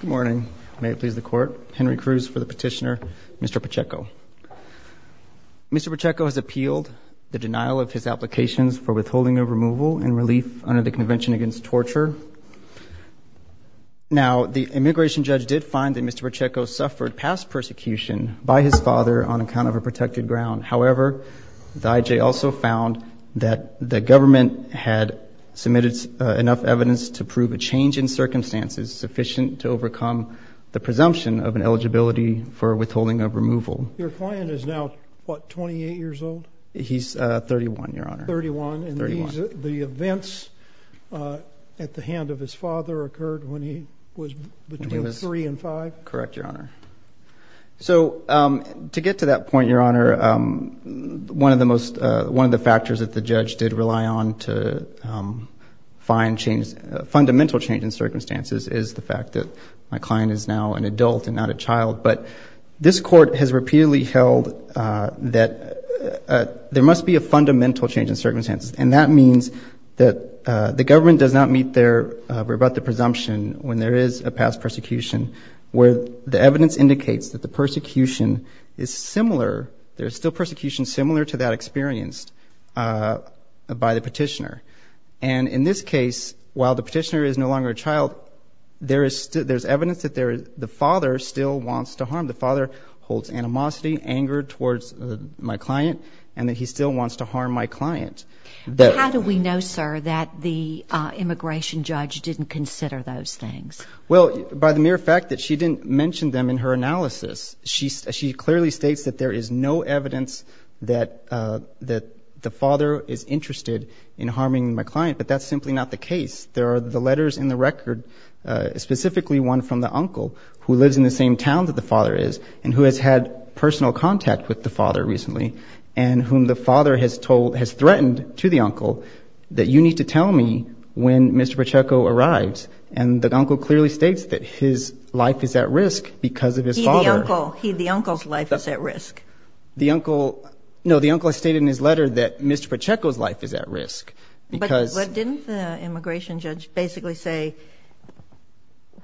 Good morning. May it please the court. Henry Cruz for the petitioner, Mr. Pacheco. Mr. Pacheco has appealed the denial of his applications for withholding of removal and relief under the Convention Against Torture. Now, the immigration judge did find that Mr. Pacheco suffered past persecution by his father on account of a protected ground. However, the IJ also found that the government had submitted enough evidence to prove a change in circumstances sufficient to overcome the presumption of an eligibility for withholding of removal. Your client is now, what, 28 years old? He's 31, Your Honor. 31. 31. And the events at the hand of his father occurred when he was between 3 and 5? Correct, Your Honor. So to get to that point, Your Honor, one of the factors that the judge did rely on to find fundamental change in circumstances is the fact that my client is now an adult and not a child. But this court has repeatedly held that there must be a fundamental change in circumstances. And that means that the government does not meet their rebuttal presumption when there is a past persecution where the evidence indicates that the persecution is similar. There is still persecution similar to that experienced by the petitioner. And in this case, while the petitioner is no longer a child, there is evidence that the father still wants to harm. The father holds animosity, anger towards my client, and that he still wants to harm my client. How do we know, sir, that the immigration judge didn't consider those things? Well, by the mere fact that she didn't mention them in her analysis. She clearly states that there is no evidence that the father is interested in harming my client, but that's simply not the case. There are the letters in the record, specifically one from the uncle, who lives in the same town that the father is and who has had personal contact with the father recently, and whom the father has told, has threatened to the uncle that you need to tell me when Mr. Pacheco arrives. And the uncle clearly states that his life is at risk because of his father. He, the uncle, he, the uncle's life is at risk. The uncle, no, the uncle has stated in his letter that Mr. Pacheco's life is at risk. But didn't the immigration judge basically say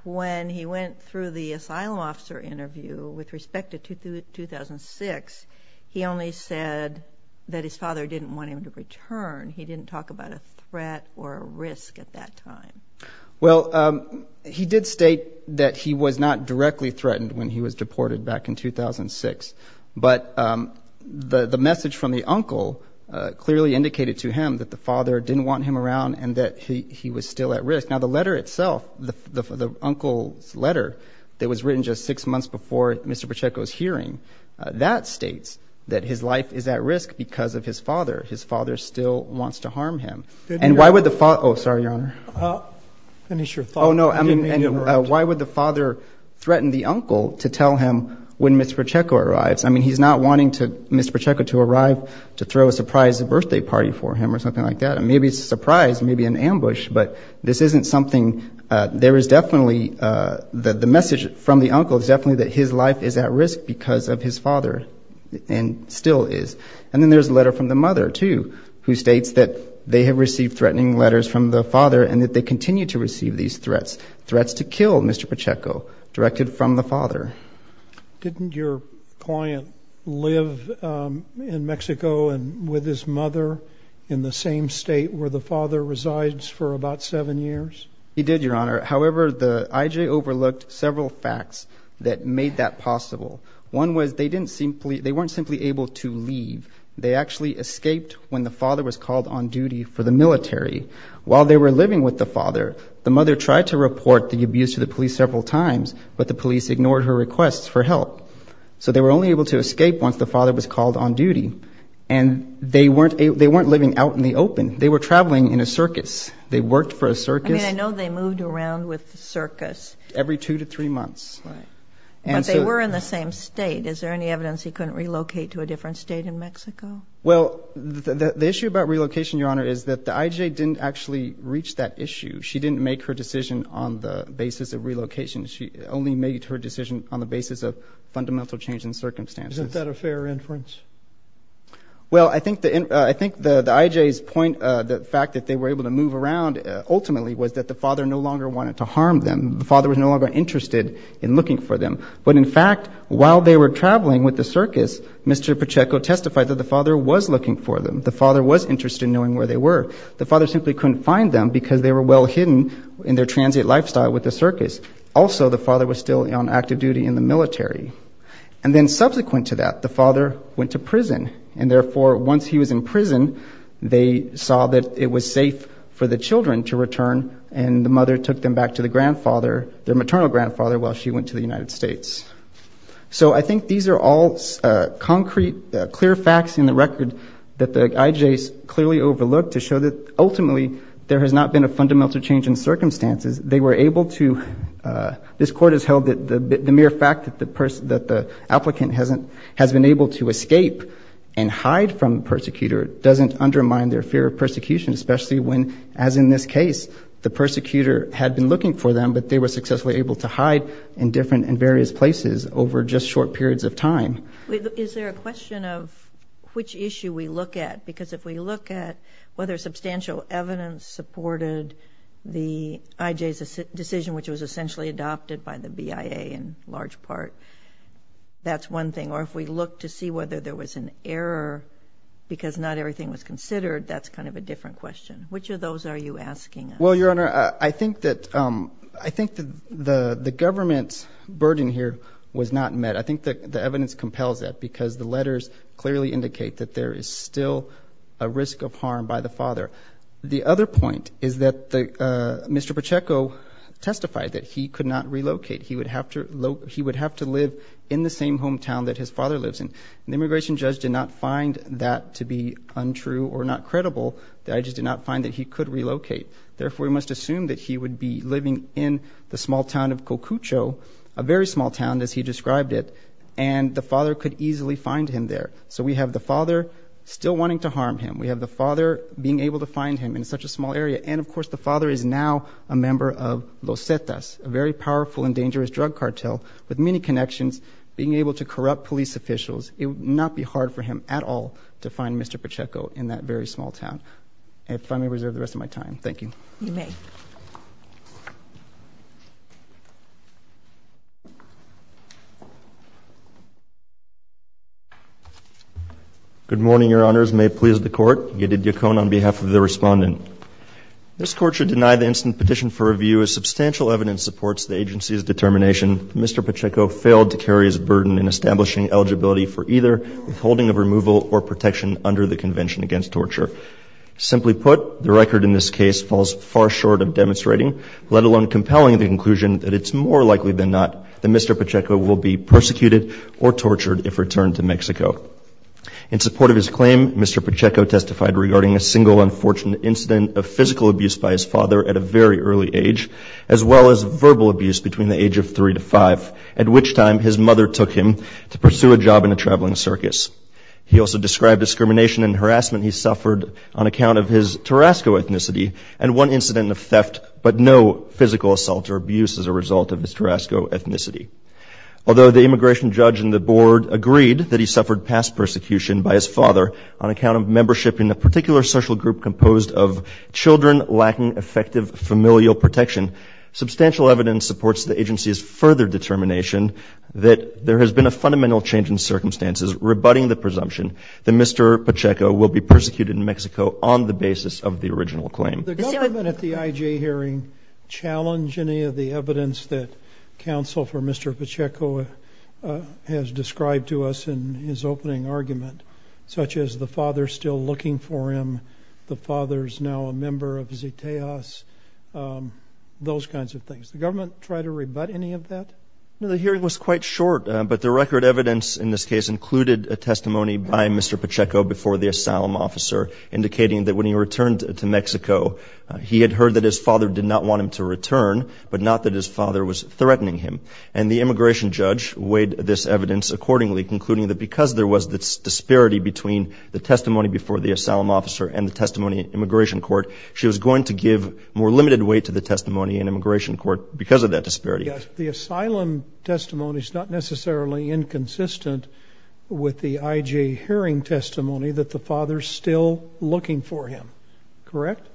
when he went through the asylum officer interview with respect to 2006, he only said that his father didn't want him to return. He didn't talk about a threat or a risk at that time. Well, he did state that he was not directly threatened when he was deported back in 2006, but the message from the uncle clearly indicated to him that the father didn't want him around and that he was still at risk. Now, the letter itself, the uncle's letter that was written just six months before Mr. Pacheco's hearing, that states that his life is at risk because of his father. His father still wants to harm him. And why would the father, oh, sorry, Your Honor. Finish your thought. Why would the father threaten the uncle to tell him when Mr. Pacheco arrives? I mean, he's not wanting Mr. Pacheco to arrive to throw a surprise birthday party for him or something like that. Maybe it's a surprise, maybe an ambush, but this isn't something, there is definitely, the message from the uncle is definitely that his life is at risk because of his father and still is. And then there's a letter from the mother, too, who states that they have received threatening letters from the father and that they continue to receive these threats, threats to kill Mr. Pacheco directed from the father. Didn't your client live in Mexico with his mother in the same state where the father resides for about seven years? He did, Your Honor. However, the IJ overlooked several facts that made that possible. One was they weren't simply able to leave. They actually escaped when the father was called on duty for the military. While they were living with the father, the mother tried to report the abuse to the police several times, but the police ignored her requests for help. So they were only able to escape once the father was called on duty. And they weren't living out in the open. They were traveling in a circus. They worked for a circus. I mean, I know they moved around with the circus. Every two to three months. Right. But they were in the same state. Is there any evidence he couldn't relocate to a different state in Mexico? Well, the issue about relocation, Your Honor, is that the IJ didn't actually reach that issue. She didn't make her decision on the basis of relocation. She only made her decision on the basis of fundamental change in circumstances. Isn't that a fair inference? Well, I think the IJ's point, the fact that they were able to move around, ultimately was that the father no longer wanted to harm them. The father was no longer interested in looking for them. But, in fact, while they were traveling with the circus, Mr. Pacheco testified that the father was looking for them. The father was interested in knowing where they were. The father simply couldn't find them because they were well hidden in their transient lifestyle with the circus. Also, the father was still on active duty in the military. And then subsequent to that, the father went to prison. And, therefore, once he was in prison, they saw that it was safe for the children to return, and the mother took them back to their maternal grandfather while she went to the United States. So I think these are all concrete, clear facts in the record that the IJ's clearly overlooked to show that, ultimately, there has not been a fundamental change in circumstances. This Court has held that the mere fact that the applicant has been able to escape and hide from the persecutor doesn't undermine their fear of persecution, especially when, as in this case, the persecutor had been looking for them, but they were successfully able to hide in different and various places over just short periods of time. Is there a question of which issue we look at? Because if we look at whether substantial evidence supported the IJ's decision, which was essentially adopted by the BIA in large part, that's one thing. Or if we look to see whether there was an error because not everything was considered, that's kind of a different question. Which of those are you asking? Well, Your Honor, I think that the government's burden here was not met. I think the evidence compels that because the letters clearly indicate that there is still a risk of harm by the father. The other point is that Mr. Pacheco testified that he could not relocate. He would have to live in the same hometown that his father lives in. The immigration judge did not find that to be untrue or not credible. The IJ did not find that he could relocate. Therefore, we must assume that he would be living in the small town of Cocucho, a very small town as he described it, and the father could easily find him there. So we have the father still wanting to harm him. We have the father being able to find him in such a small area. And, of course, the father is now a member of Los Cetas, a very powerful and dangerous drug cartel with many connections, being able to corrupt police officials. It would not be hard for him at all to find Mr. Pacheco in that very small town. If I may reserve the rest of my time, thank you. You may. May it please the Court. Yedid Yacon on behalf of the Respondent. This Court should deny the instant petition for review as substantial evidence supports the agency's determination that Mr. Pacheco failed to carry his burden in establishing eligibility for either withholding of removal or protection under the Convention Against Torture. Simply put, the record in this case falls far short of demonstrating, let alone compelling the conclusion that it's more likely than not that Mr. Pacheco will be persecuted or tortured if returned to Mexico. In support of his claim, Mr. Pacheco testified regarding a single unfortunate incident of physical abuse by his father at a very early age, as well as verbal abuse between the age of three to five, at which time his mother took him to pursue a job in a traveling circus. He also described discrimination and harassment he suffered on account of his Tarasco ethnicity and one incident of theft but no physical assault or abuse as a result of his Tarasco ethnicity. Although the immigration judge in the board agreed that he suffered past persecution by his father on account of membership in a particular social group composed of children lacking effective familial protection, substantial evidence supports the agency's further determination that there has been a fundamental change in circumstances rebutting the presumption that Mr. Pacheco will be persecuted in Mexico on the basis of the original claim. Did the government at the IJ hearing challenge any of the evidence that counsel for Mr. Pacheco has described to us in his opening argument, such as the father still looking for him, the father's now a member of ZTEAS, those kinds of things? Did the government try to rebut any of that? No, the hearing was quite short, but the record evidence in this case included a testimony by Mr. Pacheco before the asylum officer indicating that when he returned to Mexico, he had heard that his father did not want him to return, but not that his father was threatening him. And the immigration judge weighed this evidence accordingly, concluding that because there was this disparity between the testimony before the asylum officer and the testimony in immigration court, she was going to give more limited weight to the testimony in immigration court because of that disparity. Yes, the asylum testimony is not necessarily inconsistent with the IJ hearing testimony that the father's still looking for him, correct?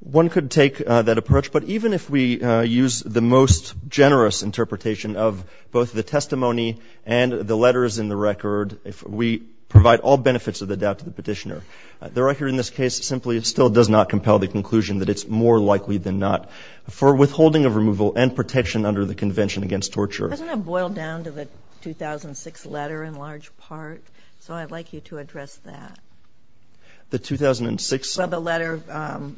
One could take that approach, but even if we use the most generous interpretation of both the testimony and the letters in the record, we provide all benefits of the doubt to the petitioner. The record in this case simply still does not compel the conclusion that it's more likely than not. For withholding of removal and protection under the Convention Against Torture. Doesn't it boil down to the 2006 letter in large part? So I'd like you to address that. The 2006? Well, the letter that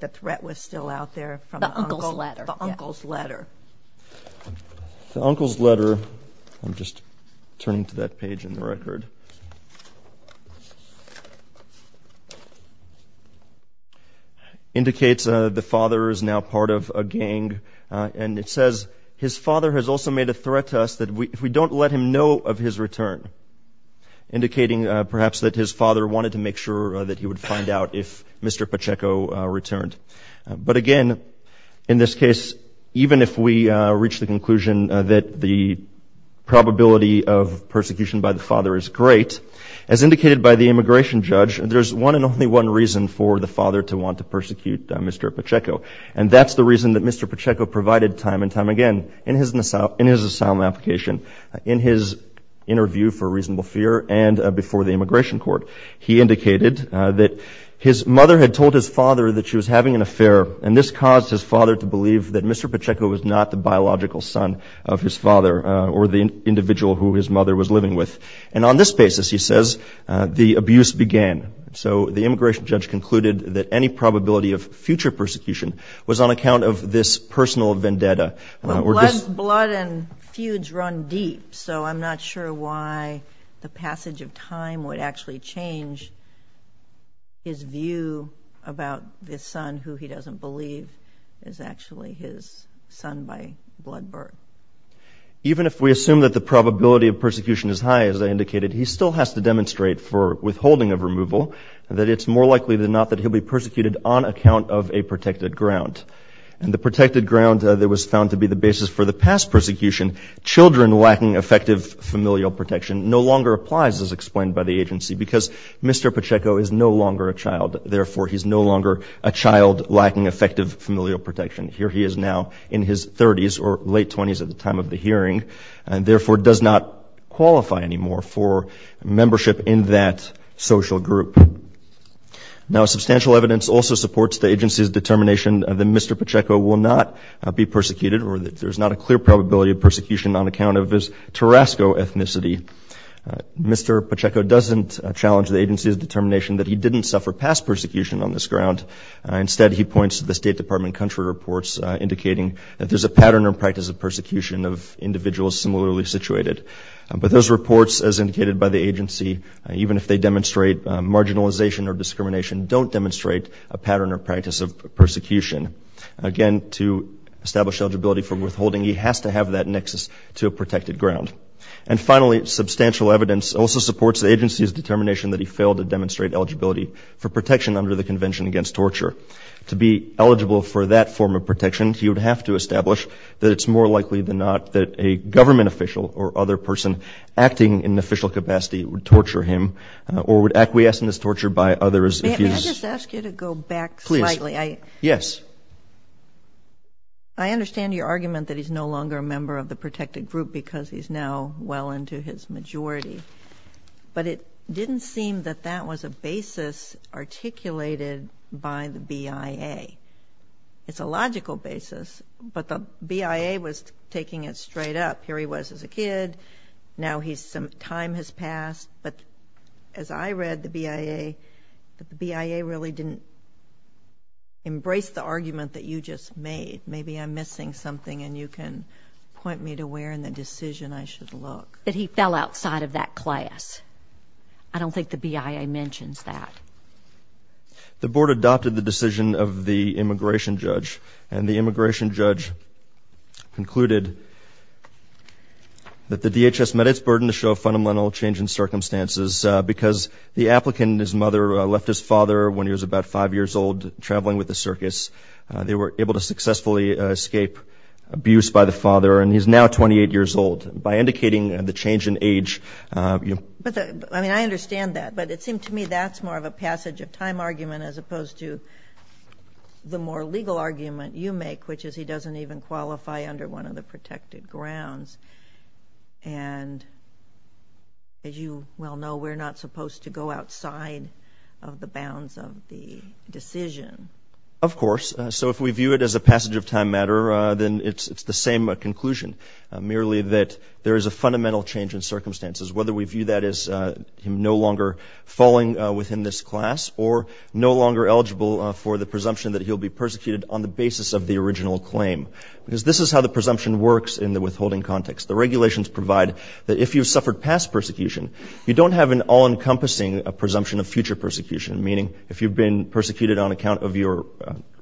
the threat was still out there from the uncle's letter. The uncle's letter. The uncle's letter, I'm just turning to that page in the record, indicates the father is now part of a gang, and it says, his father has also made a threat to us that if we don't let him know of his return, indicating perhaps that his father wanted to make sure that he would find out if Mr. Pacheco returned. But again, in this case, even if we reach the conclusion that the probability of persecution by the father is great, as indicated by the immigration judge, there's one and only one reason for the father to want to persecute Mr. Pacheco. And that's the reason that Mr. Pacheco provided time and time again in his asylum application, in his interview for reasonable fear and before the immigration court. He indicated that his mother had told his father that she was having an affair, and this caused his father to believe that Mr. Pacheco was not the biological son of his father or the individual who his mother was living with. And on this basis, he says, the abuse began. So the immigration judge concluded that any probability of future persecution was on account of this personal vendetta. Well, blood and feuds run deep, so I'm not sure why the passage of time would actually change his view about this son who he doesn't believe is actually his son by blood birth. Even if we assume that the probability of persecution is high, as I indicated, he still has to demonstrate for withholding of removal that it's more likely than not that he'll be persecuted on account of a protected ground. And the protected ground that was found to be the basis for the past persecution, children lacking effective familial protection, no longer applies, as explained by the agency, because Mr. Pacheco is no longer a child. Therefore, he's no longer a child lacking effective familial protection. Here he is now in his 30s or late 20s at the time of the hearing, and therefore does not qualify anymore for membership in that social group. Now, substantial evidence also supports the agency's determination that Mr. Pacheco will not be persecuted or that there's not a clear probability of persecution on account of his Tarasco ethnicity. Mr. Pacheco doesn't challenge the agency's determination that he didn't suffer past persecution on this ground. Instead, he points to the State Department country reports indicating that there's a pattern or practice of persecution of individuals similarly situated. But those reports, as indicated by the agency, even if they demonstrate marginalization or discrimination, don't demonstrate a pattern or practice of persecution. Again, to establish eligibility for withholding, he has to have that nexus to a protected ground. And finally, substantial evidence also supports the agency's determination that he failed to demonstrate eligibility for protection under the Convention Against Torture. To be eligible for that form of protection, he would have to establish that it's more likely than not that a government official or other person acting in official capacity would torture him or would acquiesce in this torture by others. May I just ask you to go back slightly? Yes. I understand your argument that he's no longer a member of the protected group because he's now well into his majority. But it didn't seem that that was a basis articulated by the BIA. It's a logical basis, but the BIA was taking it straight up. Here he was as a kid. Now some time has passed. But as I read the BIA, the BIA really didn't embrace the argument that you just made. Maybe I'm missing something, and you can point me to where in the decision I should look. That he fell outside of that class. I don't think the BIA mentions that. The Board adopted the decision of the immigration judge, and the immigration judge concluded that the DHS met its burden to show fundamental change in circumstances because the applicant, his mother, left his father when he was about five years old traveling with the circus. They were able to successfully escape abuse by the father, and he's now 28 years old. By indicating the change in age, you know. I mean, I understand that, but it seemed to me that's more of a passage of time argument as opposed to the more legal argument you make, which is he doesn't even qualify under one of the protected grounds. And as you well know, we're not supposed to go outside of the bounds of the decision. Of course. So if we view it as a passage of time matter, then it's the same conclusion, whether we view that as him no longer falling within this class, or no longer eligible for the presumption that he'll be persecuted on the basis of the original claim. Because this is how the presumption works in the withholding context. The regulations provide that if you've suffered past persecution, you don't have an all-encompassing presumption of future persecution, meaning if you've been persecuted on account of your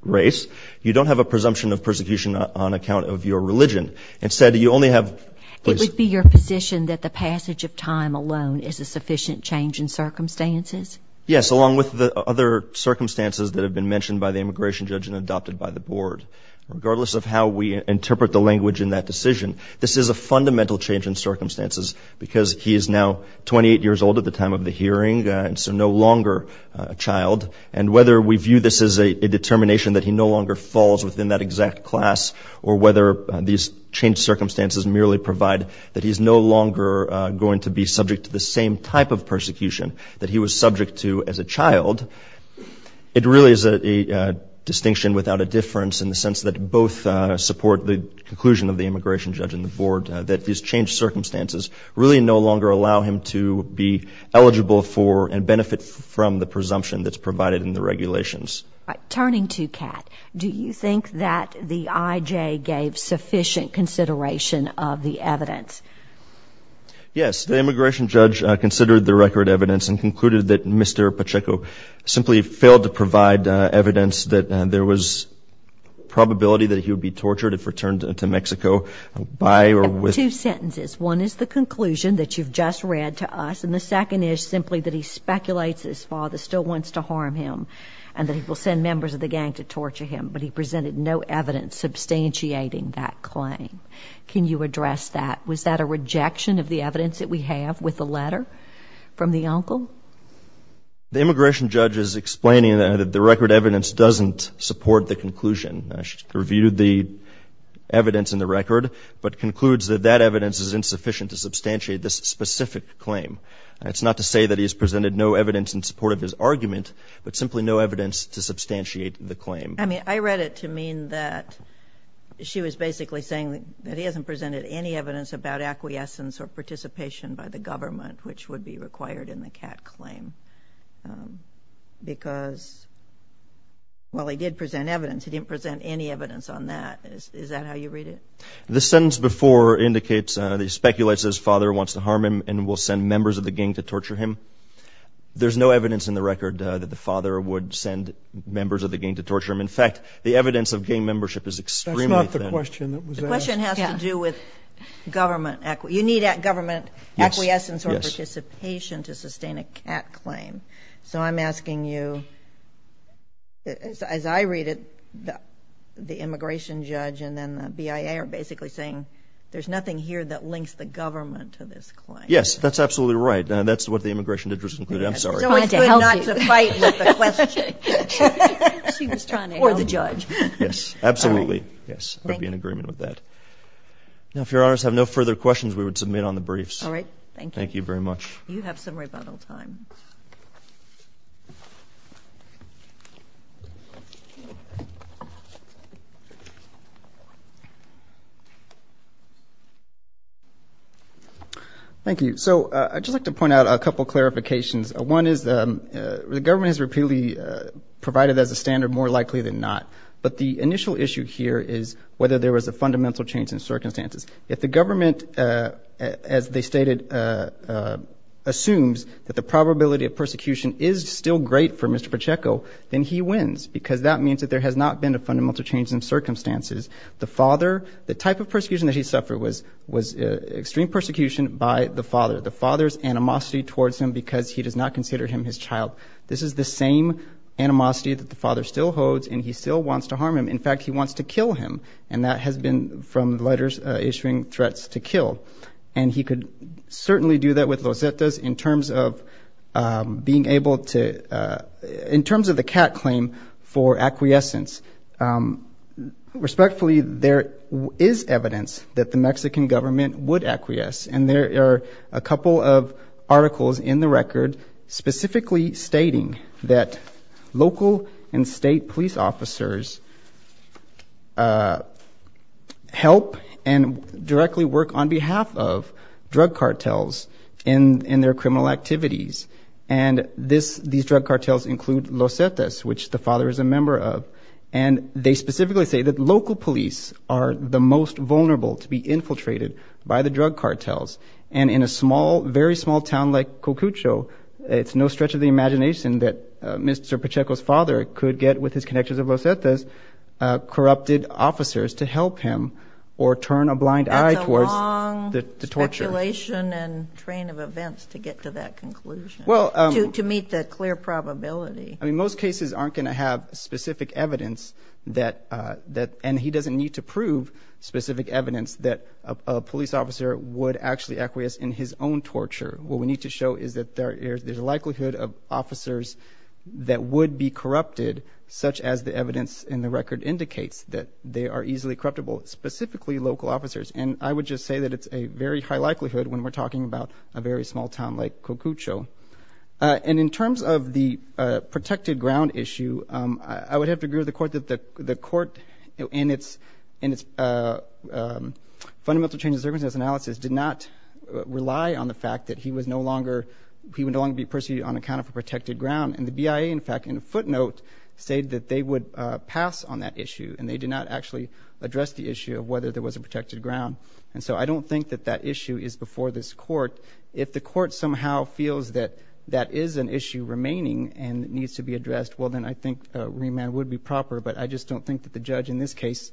race, you don't have a presumption of persecution on account of your religion. Instead, you only have, please. Would it be your position that the passage of time alone is a sufficient change in circumstances? Yes, along with the other circumstances that have been mentioned by the immigration judge and adopted by the board. Regardless of how we interpret the language in that decision, this is a fundamental change in circumstances because he is now 28 years old at the time of the hearing, and so no longer a child. And whether we view this as a determination that he no longer falls within that exact class, or whether these changed circumstances merely provide that he's no longer going to be subject to the same type of persecution that he was subject to as a child, it really is a distinction without a difference in the sense that both support the conclusion of the immigration judge and the board that these changed circumstances really no longer allow him to be eligible for and benefit from the presumption that's provided in the regulations. Turning to Kat, do you think that the IJ gave sufficient consideration of the evidence? Yes. The immigration judge considered the record evidence and concluded that Mr. Pacheco simply failed to provide evidence that there was probability that he would be tortured if returned to Mexico by or with... Two sentences. One is the conclusion that you've just read to us, and the second is simply that he speculates his father still wants to harm him and that he will send members of the gang to torture him, but he presented no evidence substantiating that claim. Can you address that? Was that a rejection of the evidence that we have with the letter from the uncle? The immigration judge is explaining that the record evidence doesn't support the conclusion. She reviewed the evidence in the record, but concludes that that evidence is insufficient to substantiate this specific claim. It's not to say that he has presented no evidence in support of his argument, but simply no evidence to substantiate the claim. I mean, I read it to mean that she was basically saying that he hasn't presented any evidence about acquiescence or participation by the government, which would be required in the Kat claim, because... Well, he did present evidence. He didn't present any evidence on that. Is that how you read it? The sentence before indicates that he speculates his father wants to harm him and will send members of the gang to torture him. There's no evidence in the record that the father would send members of the gang to torture him. In fact, the evidence of gang membership is extremely thin. That's not the question that was asked. The question has to do with government... You need government acquiescence or participation to sustain a Kat claim. So I'm asking you, as I read it, the immigration judge and then the BIA are basically saying there's nothing here that links the government to this claim. Yes, that's absolutely right. That's what the immigration judge concluded. I'm sorry. It's always good not to fight with the question. Or the judge. Yes, absolutely. I would be in agreement with that. Now, if Your Honors have no further questions, we would submit on the briefs. All right. Thank you. Thank you very much. You have some rebuttal time. Thank you. So I'd just like to point out a couple of clarifications. One is the government has repeatedly provided as a standard more likely than not. But the initial issue here is whether there was a fundamental change in circumstances. If the government, as they stated, assumes that the probability of persecution is still great for Mr. Pacheco, then he wins, because that means that there has not been a fundamental change in circumstances. The father, the type of persecution that he suffered was extreme persecution by the father. The father's animosity towards him because he does not consider him his child. This is the same animosity that the father still holds, and he still wants to harm him. In fact, he wants to kill him. And that has been from letters issuing threats to kill. And he could certainly do that with Los Zetas in terms of being able to, in terms of the CAT claim for acquiescence. Respectfully, there is evidence that the Mexican government would acquiesce. And there are a couple of articles in the record specifically stating that local and state police officers help and directly work on behalf of drug cartels in their criminal activities. And these drug cartels include Los Zetas, which the father is a member of. And they specifically say that local police are the most vulnerable to be infiltrated by the drug cartels. And in a small, very small town like Cocucho, it's no stretch of the imagination that Mr. Pacheco's father could get with his connections of Los Zetas, corrupted officers to help him or turn a blind eye towards the torture. That's a long speculation and train of events to get to that conclusion, to meet the clear probability. I mean, most cases aren't going to have specific evidence that, and he doesn't need to prove specific evidence that a police officer would actually acquiesce in his own torture. What we need to show is that there's a likelihood of officers that would be corrupted, such as the evidence in the record indicates that they are easily corruptible, specifically local officers. And I would just say that it's a very high likelihood when we're talking about a very small town like Cocucho. And in terms of the protected ground issue, I would have to agree with the court that the court in its fundamental change of circumstances analysis did not rely on the fact that he was no longer, he would no longer be perceived on account of a protected ground. And the BIA, in fact, in a footnote, said that they would pass on that issue. And they did not actually address the issue of whether there was a protected ground. And so I don't think that that issue is before this court. If the court somehow feels that that is an issue remaining and needs to be addressed, well, then I think remand would be proper. But I just don't think that the judge in this case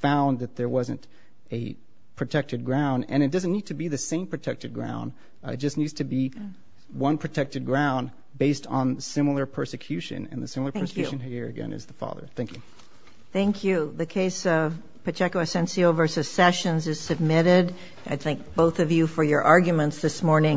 found that there wasn't a protected ground. And it doesn't need to be the same protected ground. It just needs to be one protected ground based on similar persecution. And the similar persecution here again is the father. Thank you. Thank you. The case of Pacheco Asensio v. Sessions is submitted. I thank both of you for your arguments this morning.